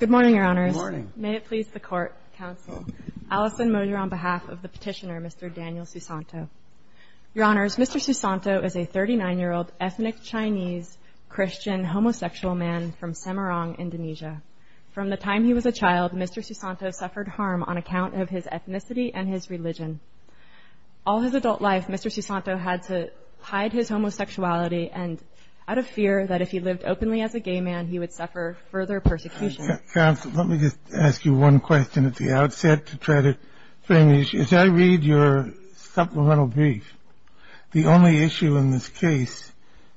Good morning, Your Honors. May it please the Court, Counsel. Alison Moser on behalf of the petitioner, Mr. Daniel Susanto. Your Honors, Mr. Susanto is a 39-year-old ethnic Chinese Christian homosexual man from Semarang, Indonesia. From the time he was a child, Mr. Susanto suffered harm on account of his ethnicity and his religion. All his adult life, Mr. Susanto had to hide his homosexuality, and out of fear that if he lived openly as a gay man, he would suffer further persecution. Counsel, let me just ask you one question at the outset to try to frame the issue. As I read your supplemental brief, the only issue in this case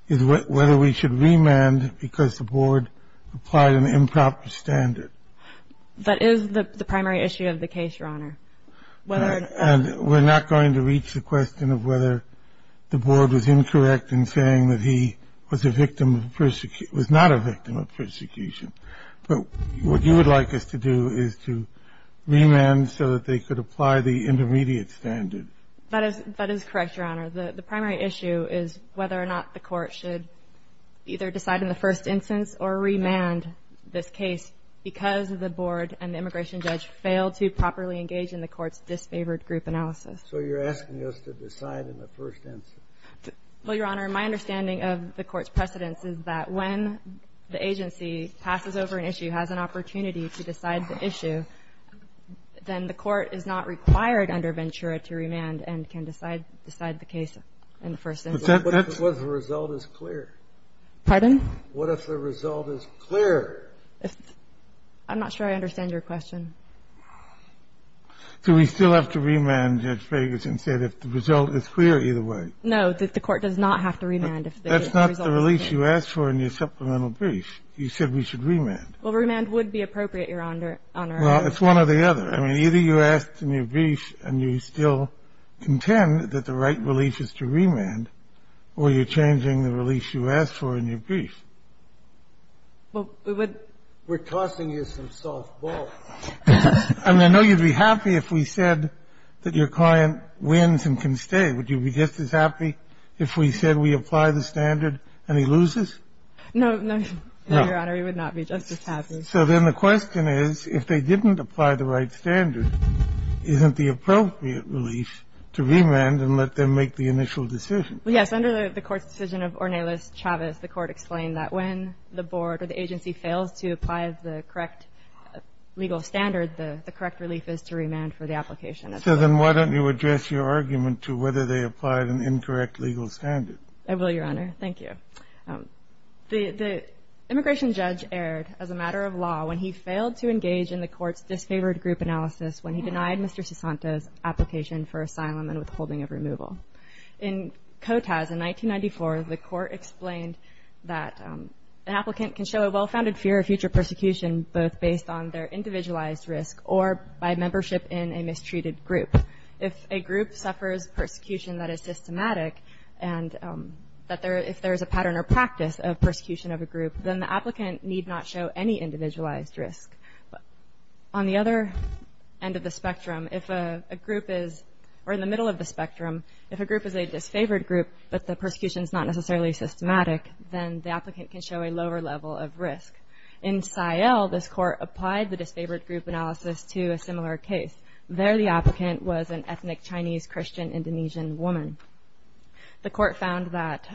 is whether we should remand because the Board applied an improper standard. That is the primary issue of the case, Your Honor. And we're not going to reach the question of whether the Board was incorrect in saying that he was a victim of persecution, was not a victim of persecution. But what you would like us to do is to remand so that they could apply the intermediate standard. That is correct, Your Honor. The primary issue is whether or not the Court should either decide in the first instance or remand this case because the Board and the immigration judge failed to properly engage in the Court's disfavored group analysis. So you're asking us to decide in the first instance. Well, Your Honor, my understanding of the Court's precedence is that when the agency passes over an issue, has an opportunity to decide the issue, then the Court is not required under Ventura to remand and can decide the case in the first instance. What if the result is clear? Pardon? What if the result is clear? I'm not sure I understand your question. Do we still have to remand, Judge Ferguson, if the result is clear either way? No, the Court does not have to remand if the result is clear. That's not the release you asked for in your supplemental brief. You said we should remand. Well, remand would be appropriate, Your Honor. Well, it's one or the other. I mean, either you asked in your brief and you still contend that the right release is to remand, or you're changing the release you asked for in your brief. Well, we would – We're tossing you some soft balls. I mean, I know you'd be happy if we said that your client wins and can stay. Would you be just as happy if we said we apply the standard and he loses? No. No, Your Honor, he would not be just as happy. So then the question is, if they didn't apply the right standard, isn't the appropriate release to remand and let them make the initial decision? Well, yes. Under the Court's decision of Ornelas-Chavez, the Court explained that when the board or the agency fails to apply the correct legal standard, the correct relief is to remand for the application. So then why don't you address your argument to whether they applied an incorrect legal standard? I will, Your Honor. Thank you. The immigration judge erred as a matter of law when he failed to engage in the Court's withholding of removal. In COTAS, in 1994, the Court explained that an applicant can show a well-founded fear of future persecution both based on their individualized risk or by membership in a mistreated group. If a group suffers persecution that is systematic and that there – if there is a pattern or practice of persecution of a group, then the applicant need not show any individualized risk. On the other end of the spectrum, if a group is – or in the middle of the spectrum, if a group is a disfavored group but the persecution is not necessarily systematic, then the applicant can show a lower level of risk. In Sayal, this Court applied the disfavored group analysis to a similar case. There, the applicant was an ethnic Chinese Christian Indonesian woman. The Court found that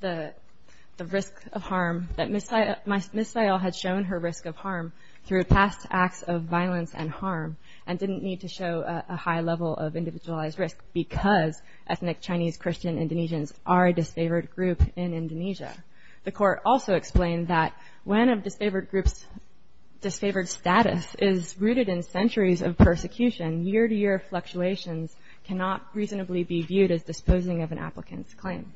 the risk of harm – that Ms. Sayal had shown her risk of harm through past acts of violence and harm and didn't need to show a high level of individualized risk because ethnic Chinese Christian Indonesians are a disfavored group in Indonesia. The Court also explained that when a disfavored group's disfavored status is rooted in centuries of persecution, year-to-year fluctuations cannot reasonably be viewed as disposing of an applicant's claim.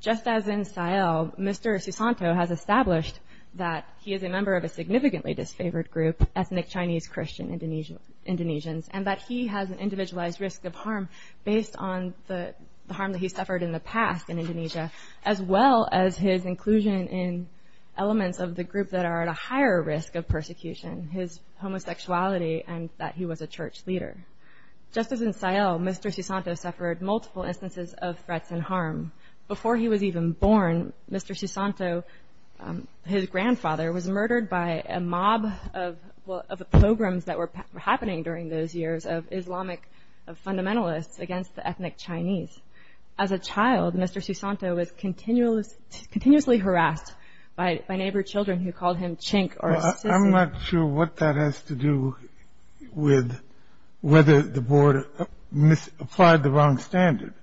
Just as in Sayal, Mr. Susanto has established that he is a member of a significantly disfavored group, ethnic Chinese Christian Indonesians, and that he has an individualized risk of harm based on the harm that he suffered in the past in Indonesia as well as his inclusion in elements of the group that are at a higher risk of persecution, his homosexuality, and that he was a church leader. Just as in Sayal, Mr. Susanto suffered multiple instances of threats and harm. Before he was even born, Mr. Susanto, his grandfather, was murdered by a mob of programs that were happening during those years of Islamic fundamentalists against the ethnic Chinese. As a child, Mr. Susanto was continuously harassed by neighbor children who called him chink or sissy. I'm not sure what that has to do with whether the board applied the wrong standard.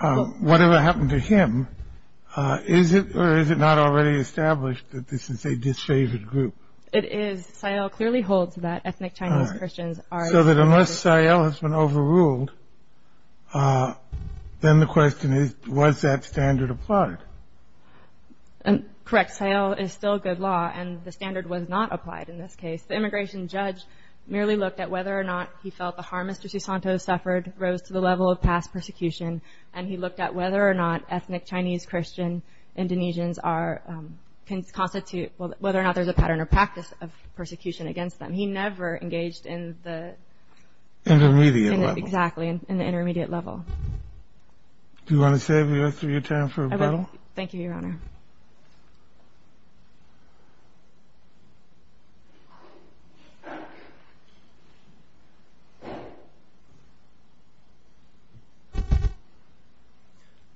Whatever happened to him, is it or is it not already established that this is a disfavored group? It is. So that unless Sayal has been overruled, then the question is, was that standard applied? Correct. Sayal is still good law, and the standard was not applied in this case. The immigration judge merely looked at whether or not he felt the harm Mr. Susanto suffered rose to the level of past persecution, and he looked at whether or not ethnic Chinese Christian Indonesians are, whether or not there's a pattern or practice of persecution against them. He never engaged in the intermediate level. Exactly, in the intermediate level. Do you want to save the rest of your time for rebuttal? I will. Thank you, Your Honor.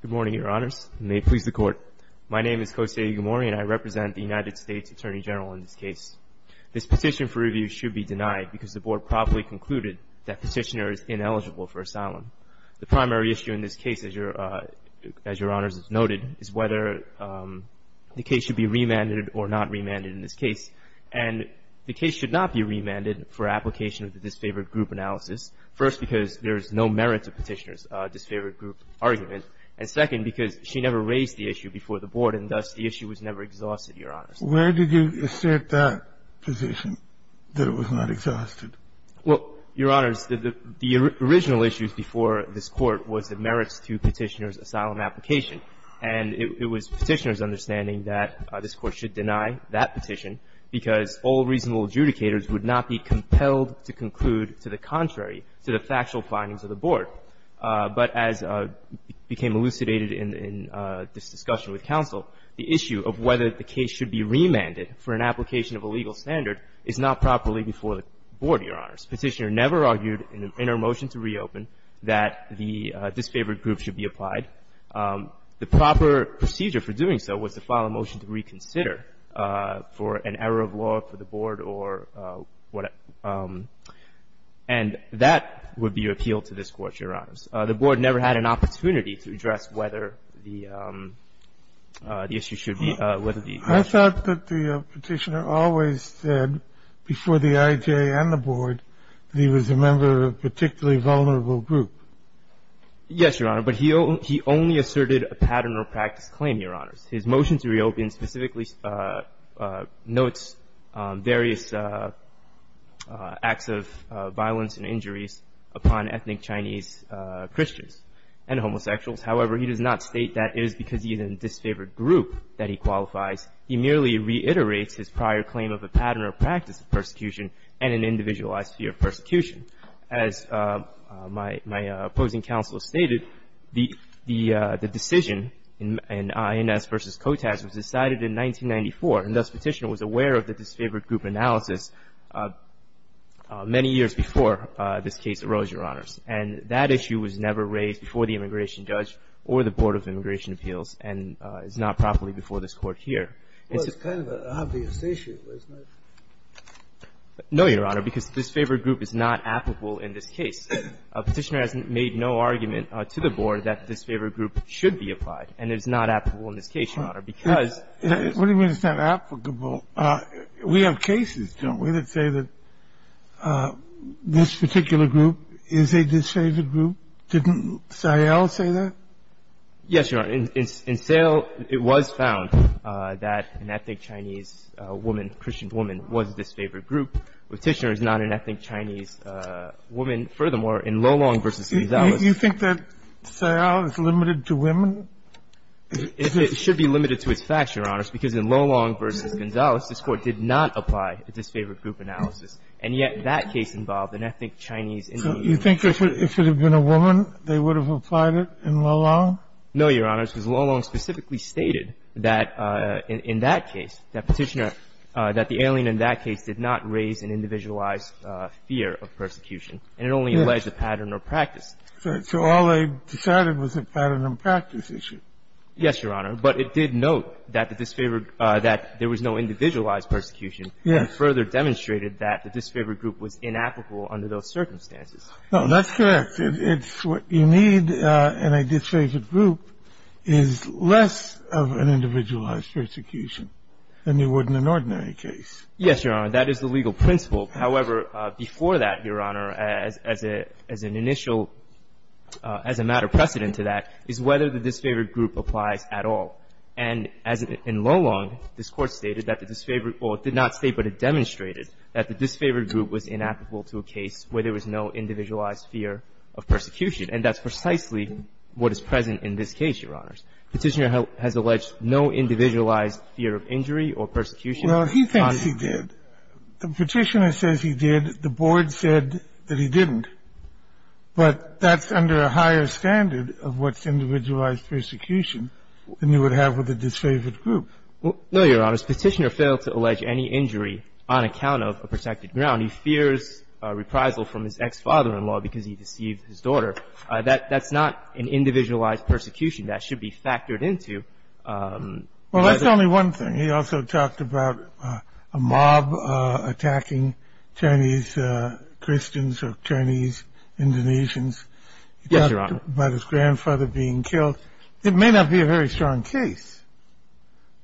Good morning, Your Honors, and may it please the Court. My name is Kose Igamori, and I represent the United States Attorney General in this case. This petition for review should be denied because the Board probably concluded that Petitioner is ineligible for asylum. The primary issue in this case, as Your Honor has noted, is whether the case should be remanded or not remanded in this case. And the case should not be remanded for application of the disfavored group analysis, first because there is no merit to Petitioner's disfavored group argument, and second because she never raised the issue before the Board, and thus the issue was never exhausted, Your Honor. Where did you assert that position, that it was not exhausted? Well, Your Honors, the original issues before this Court was the merits to Petitioner's asylum application. And it was Petitioner's understanding that this Court should deny that petition because all reasonable adjudicators would not be compelled to conclude to the contrary to the factual findings of the Board. But as became elucidated in this discussion with counsel, the issue of whether the case should be remanded for an application of a legal standard is not properly before the Board, Your Honors. Petitioner never argued in her motion to reopen that the disfavored group should be applied. The proper procedure for doing so was to file a motion to reconsider for an error of law for the Board or whatever, and that would be appealed to this Court, Your Honors. The Board never had an opportunity to address whether the issue should be — whether the — I thought that the Petitioner always said before the IJA and the Board that he was a member of a particularly vulnerable group. Yes, Your Honor. But he only asserted a pattern or practice claim, Your Honors. His motion to reopen specifically notes various acts of violence and injuries upon ethnic Chinese Christians and homosexuals. However, he does not state that it is because he is in a disfavored group that he qualifies. He merely reiterates his prior claim of a pattern or practice of persecution and an individualized fear of persecution. As my opposing counsel stated, the decision in INS v. KOTAS was decided in 1994, and thus Petitioner was aware of the disfavored group analysis many years before this case arose, Your Honors. And that issue was never raised before the immigration judge or the Board of Immigration Appeals and is not properly before this Court here. Well, it's kind of an obvious issue, isn't it? No, Your Honor, because disfavored group is not applicable in this case. Petitioner has made no argument to the Board that disfavored group should be applied, and it is not applicable in this case, Your Honor, because — What do you mean it's not applicable? We have cases, don't we, that say that this particular group is a disfavored group? Didn't Sayal say that? Yes, Your Honor. In Sayal, it was found that an ethnic Chinese woman, Christian woman, was a disfavored group. Petitioner is not an ethnic Chinese woman. Furthermore, in Lolong v. Gonzales — You think that Sayal is limited to women? It should be limited to its facts, Your Honors, because in Lolong v. Gonzales, this Court did not apply a disfavored group analysis, and yet that case involved an ethnic Chinese Indian woman. So you think it should have been a woman? They would have applied it in Lolong? No, Your Honors, because Lolong specifically stated that in that case, that Petitioner — that the alien in that case did not raise an individualized fear of persecution, and it only alleged a pattern or practice. So all they decided was a pattern or practice issue? Yes, Your Honor. But it did note that the disfavored — that there was no individualized persecution. Yes. And further demonstrated that the disfavored group was inapplicable under those circumstances. No, that's correct. It's what you need in a disfavored group is less of an individualized persecution than you would in an ordinary case. Yes, Your Honor. That is the legal principle. However, before that, Your Honor, as an initial, as a matter of precedent to that, is whether the disfavored group applies at all. And as in Lolong, this Court stated that the disfavored — or it did not state, but it demonstrated that the disfavored group was inapplicable to a case where there was no individualized fear of persecution. And that's precisely what is present in this case, Your Honors. Petitioner has alleged no individualized fear of injury or persecution. Well, he thinks he did. The Petitioner says he did. The Board said that he didn't. But that's under a higher standard of what's individualized persecution than you would have with a disfavored group. No, Your Honors. Petitioner failed to allege any injury on account of a protected ground. He fears reprisal from his ex-father-in-law because he deceived his daughter. That's not an individualized persecution. That should be factored into whether — Well, that's only one thing. He also talked about a mob attacking Chinese Christians or Chinese Indonesians. Yes, Your Honor. He talked about his grandfather being killed. It may not be a very strong case,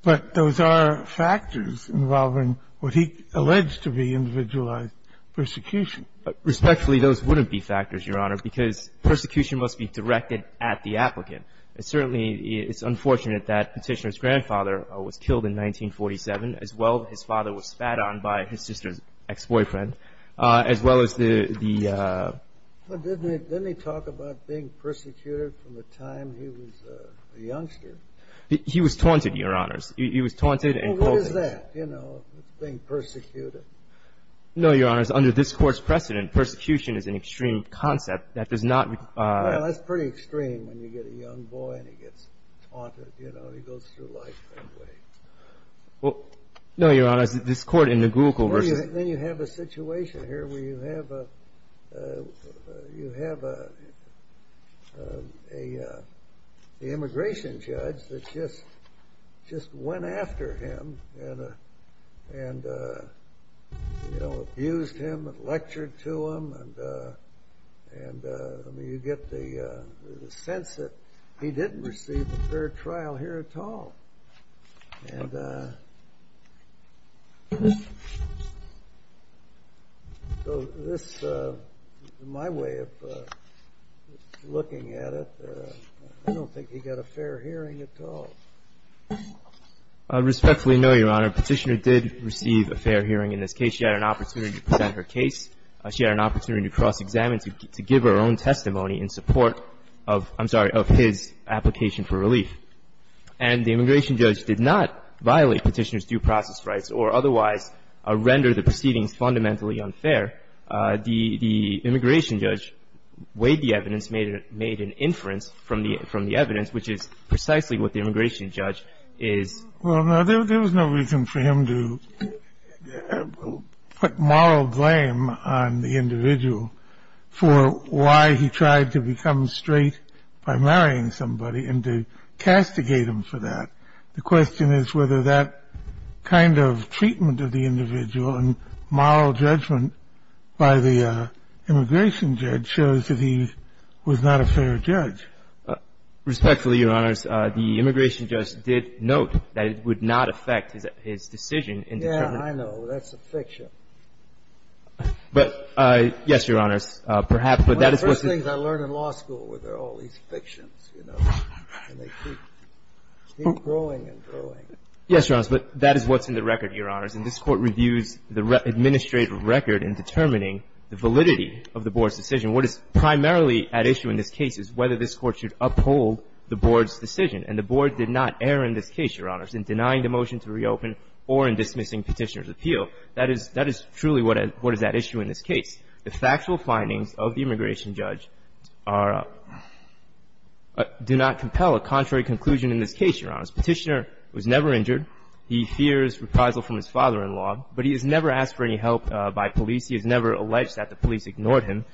but those are factors involving what he alleged to be individualized persecution. Respectfully, those wouldn't be factors, Your Honor, because persecution must be directed at the applicant. Certainly, it's unfortunate that Petitioner's grandfather was killed in 1947, as well as his father was spat on by his sister's ex-boyfriend, as well as the — Didn't he talk about being persecuted from the time he was a youngster? He was taunted, Your Honors. He was taunted and called — Well, what is that, you know, being persecuted? No, Your Honors. Under this Court's precedent, persecution is an extreme concept that does not — Well, that's pretty extreme when you get a young boy and he gets taunted. You know, he goes through life that way. Well, no, Your Honors. This Court in the Google versus — Then you have a situation here where you have a — you have a — the immigration judge that just went after him and, you know, abused him and lectured to him. And, I mean, you get the sense that he didn't receive a fair trial here at all. And so this, in my way of looking at it, I don't think he got a fair hearing at all. I respectfully know, Your Honor, Petitioner did receive a fair hearing in this case. She had an opportunity to present her case. She had an opportunity to cross-examine, to give her own testimony in support of — I'm sorry, of his application for relief. And the immigration judge did not violate Petitioner's due process rights or otherwise render the proceedings fundamentally unfair. The immigration judge weighed the evidence, made an inference from the evidence, which is precisely what the immigration judge is — on the individual for why he tried to become straight by marrying somebody and to castigate him for that. The question is whether that kind of treatment of the individual and moral judgment by the immigration judge shows that he was not a fair judge. Respectfully, Your Honors, the immigration judge did note that it would not affect his decision in determining — Yeah, I know. That's a fiction. But, yes, Your Honors, perhaps, but that is what's in — One of the first things I learned in law school were there are all these fictions, you know, and they keep — keep growing and growing. Yes, Your Honors, but that is what's in the record, Your Honors. And this Court reviews the administrative record in determining the validity of the Board's decision. What is primarily at issue in this case is whether this Court should uphold the Board's decision. And the Board did not err in this case, Your Honors, in denying the motion to reopen or in dismissing Petitioner's appeal. That is — that is truly what is at issue in this case. The factual findings of the immigration judge are — do not compel a contrary conclusion in this case, Your Honors. Petitioner was never injured. He fears reprisal from his father-in-law, but he has never asked for any help by police. He has never alleged that the police ignored him.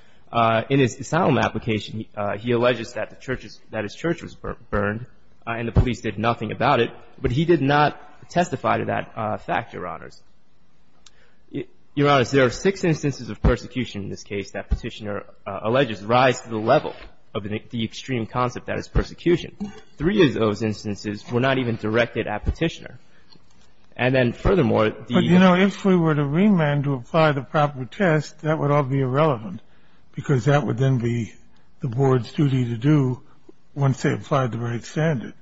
In his asylum application, he alleges that the church's — that his church was burned and the police did nothing about it. But he did not testify to that fact, Your Honors. Your Honors, there are six instances of persecution in this case that Petitioner alleges rise to the level of the extreme concept that is persecution. Three of those instances were not even directed at Petitioner. And then, furthermore, the — But, you know, if we were to remand to apply the proper test, that would all be irrelevant, because that would then be the Board's duty to do once they applied the right standard.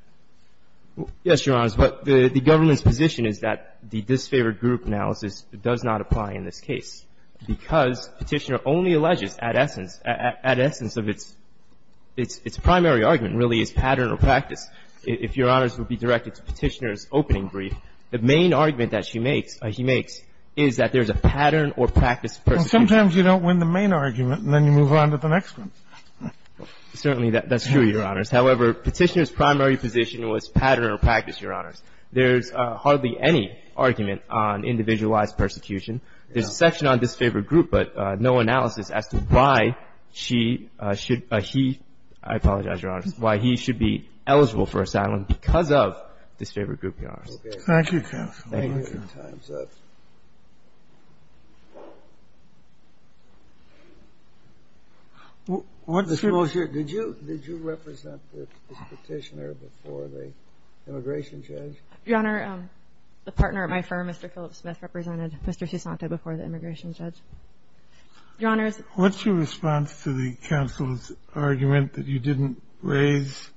Yes, Your Honors. But the government's position is that the disfavored group analysis does not apply in this case, because Petitioner only alleges at essence — at essence of its — its primary argument, really, is pattern or practice. If Your Honors would be directed to Petitioner's opening brief, the main argument that she makes — he makes is that there's a pattern or practice of persecution. Sometimes you don't win the main argument, and then you move on to the next one. Certainly, that's true, Your Honors. However, Petitioner's primary position was pattern or practice, Your Honors. There's hardly any argument on individualized persecution. There's a section on disfavored group, but no analysis as to why she should — he — I apologize, Your Honors — why he should be eligible for asylum because of disfavored group, Your Honors. Thank you, counsel. Thank you. Your Honor, the partner at my firm, Mr. Phillips Smith, represented Mr. Sousanta before the immigration judge. Your Honors — What's your response to the counsel's argument that you didn't raise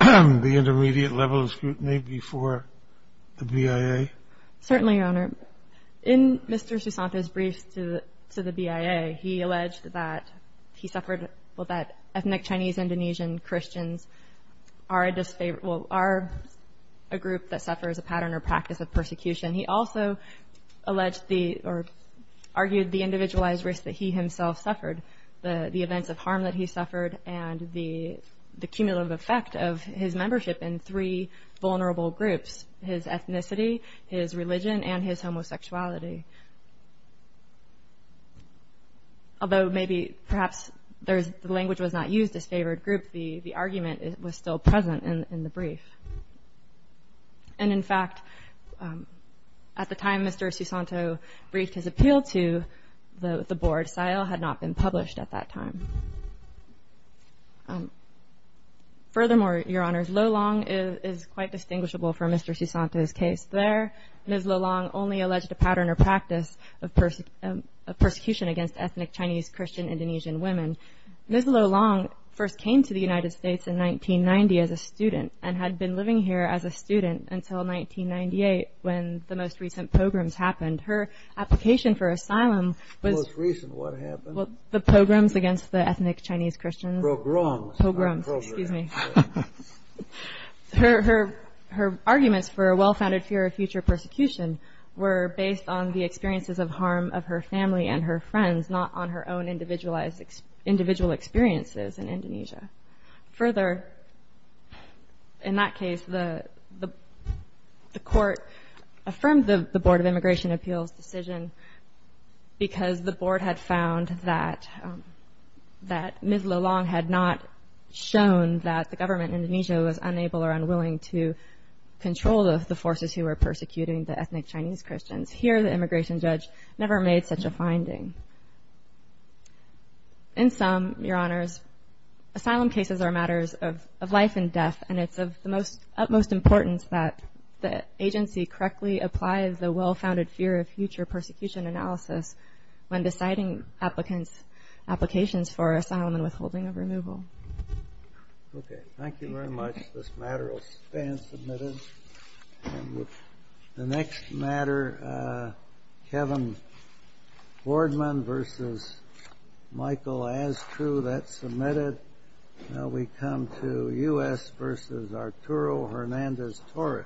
the intermediate level of scrutiny before the BIA? Certainly, Your Honor. In Mr. Sousanta's briefs to the BIA, he alleged that he suffered — well, that ethnic Chinese-Indonesian Christians are a disfavored — well, are a group that suffers a pattern or practice of persecution. He also alleged the — or argued the individualized risk that he himself suffered, the events of harm that he suffered, and the cumulative effect of his membership in three vulnerable groups — his ethnicity, his religion, and his homosexuality. Although maybe, perhaps, there's — the language was not used, disfavored group, the argument was still present in the brief. And, in fact, at the time Mr. Sousanta briefed his appeal to the board, SILE had not been published at that time. Furthermore, Your Honors, Lolong is quite distinguishable from Mr. Sousanta's case. There, Ms. Lolong only alleged a pattern or practice of persecution against ethnic Chinese-Christian Indonesian women. Ms. Lolong first came to the United States in 1990 as a student and had been living here as a student until 1998 when the most recent pogroms happened. Her application for asylum was — The most recent what happened? Well, the pogroms against the ethnic Chinese-Christians. Pogroms. Pogroms. Pogroms. Excuse me. Her arguments for a well-founded fear of future persecution were based on the experiences of harm of her family and her friends, not on her own individualized — individual experiences in Indonesia. Further, in that case, the court affirmed the Board of Immigration Appeals decision because the Board had found that Ms. Lolong had not shown that the government in Indonesia was unable or unwilling to control the forces who were persecuting the ethnic Chinese-Christians. Here, the immigration judge never made such a finding. In sum, Your Honors, asylum cases are matters of life and death, and it's of the utmost importance that the agency correctly applies the well-founded fear of future persecution analysis when deciding applicants' applications for asylum and withholding of removal. Okay. Thank you very much. This matter will stand submitted. And with the next matter, Kevin Boardman v. Michael Astru that's submitted. Now we come to U.S. v. Arturo Hernandez-Torres.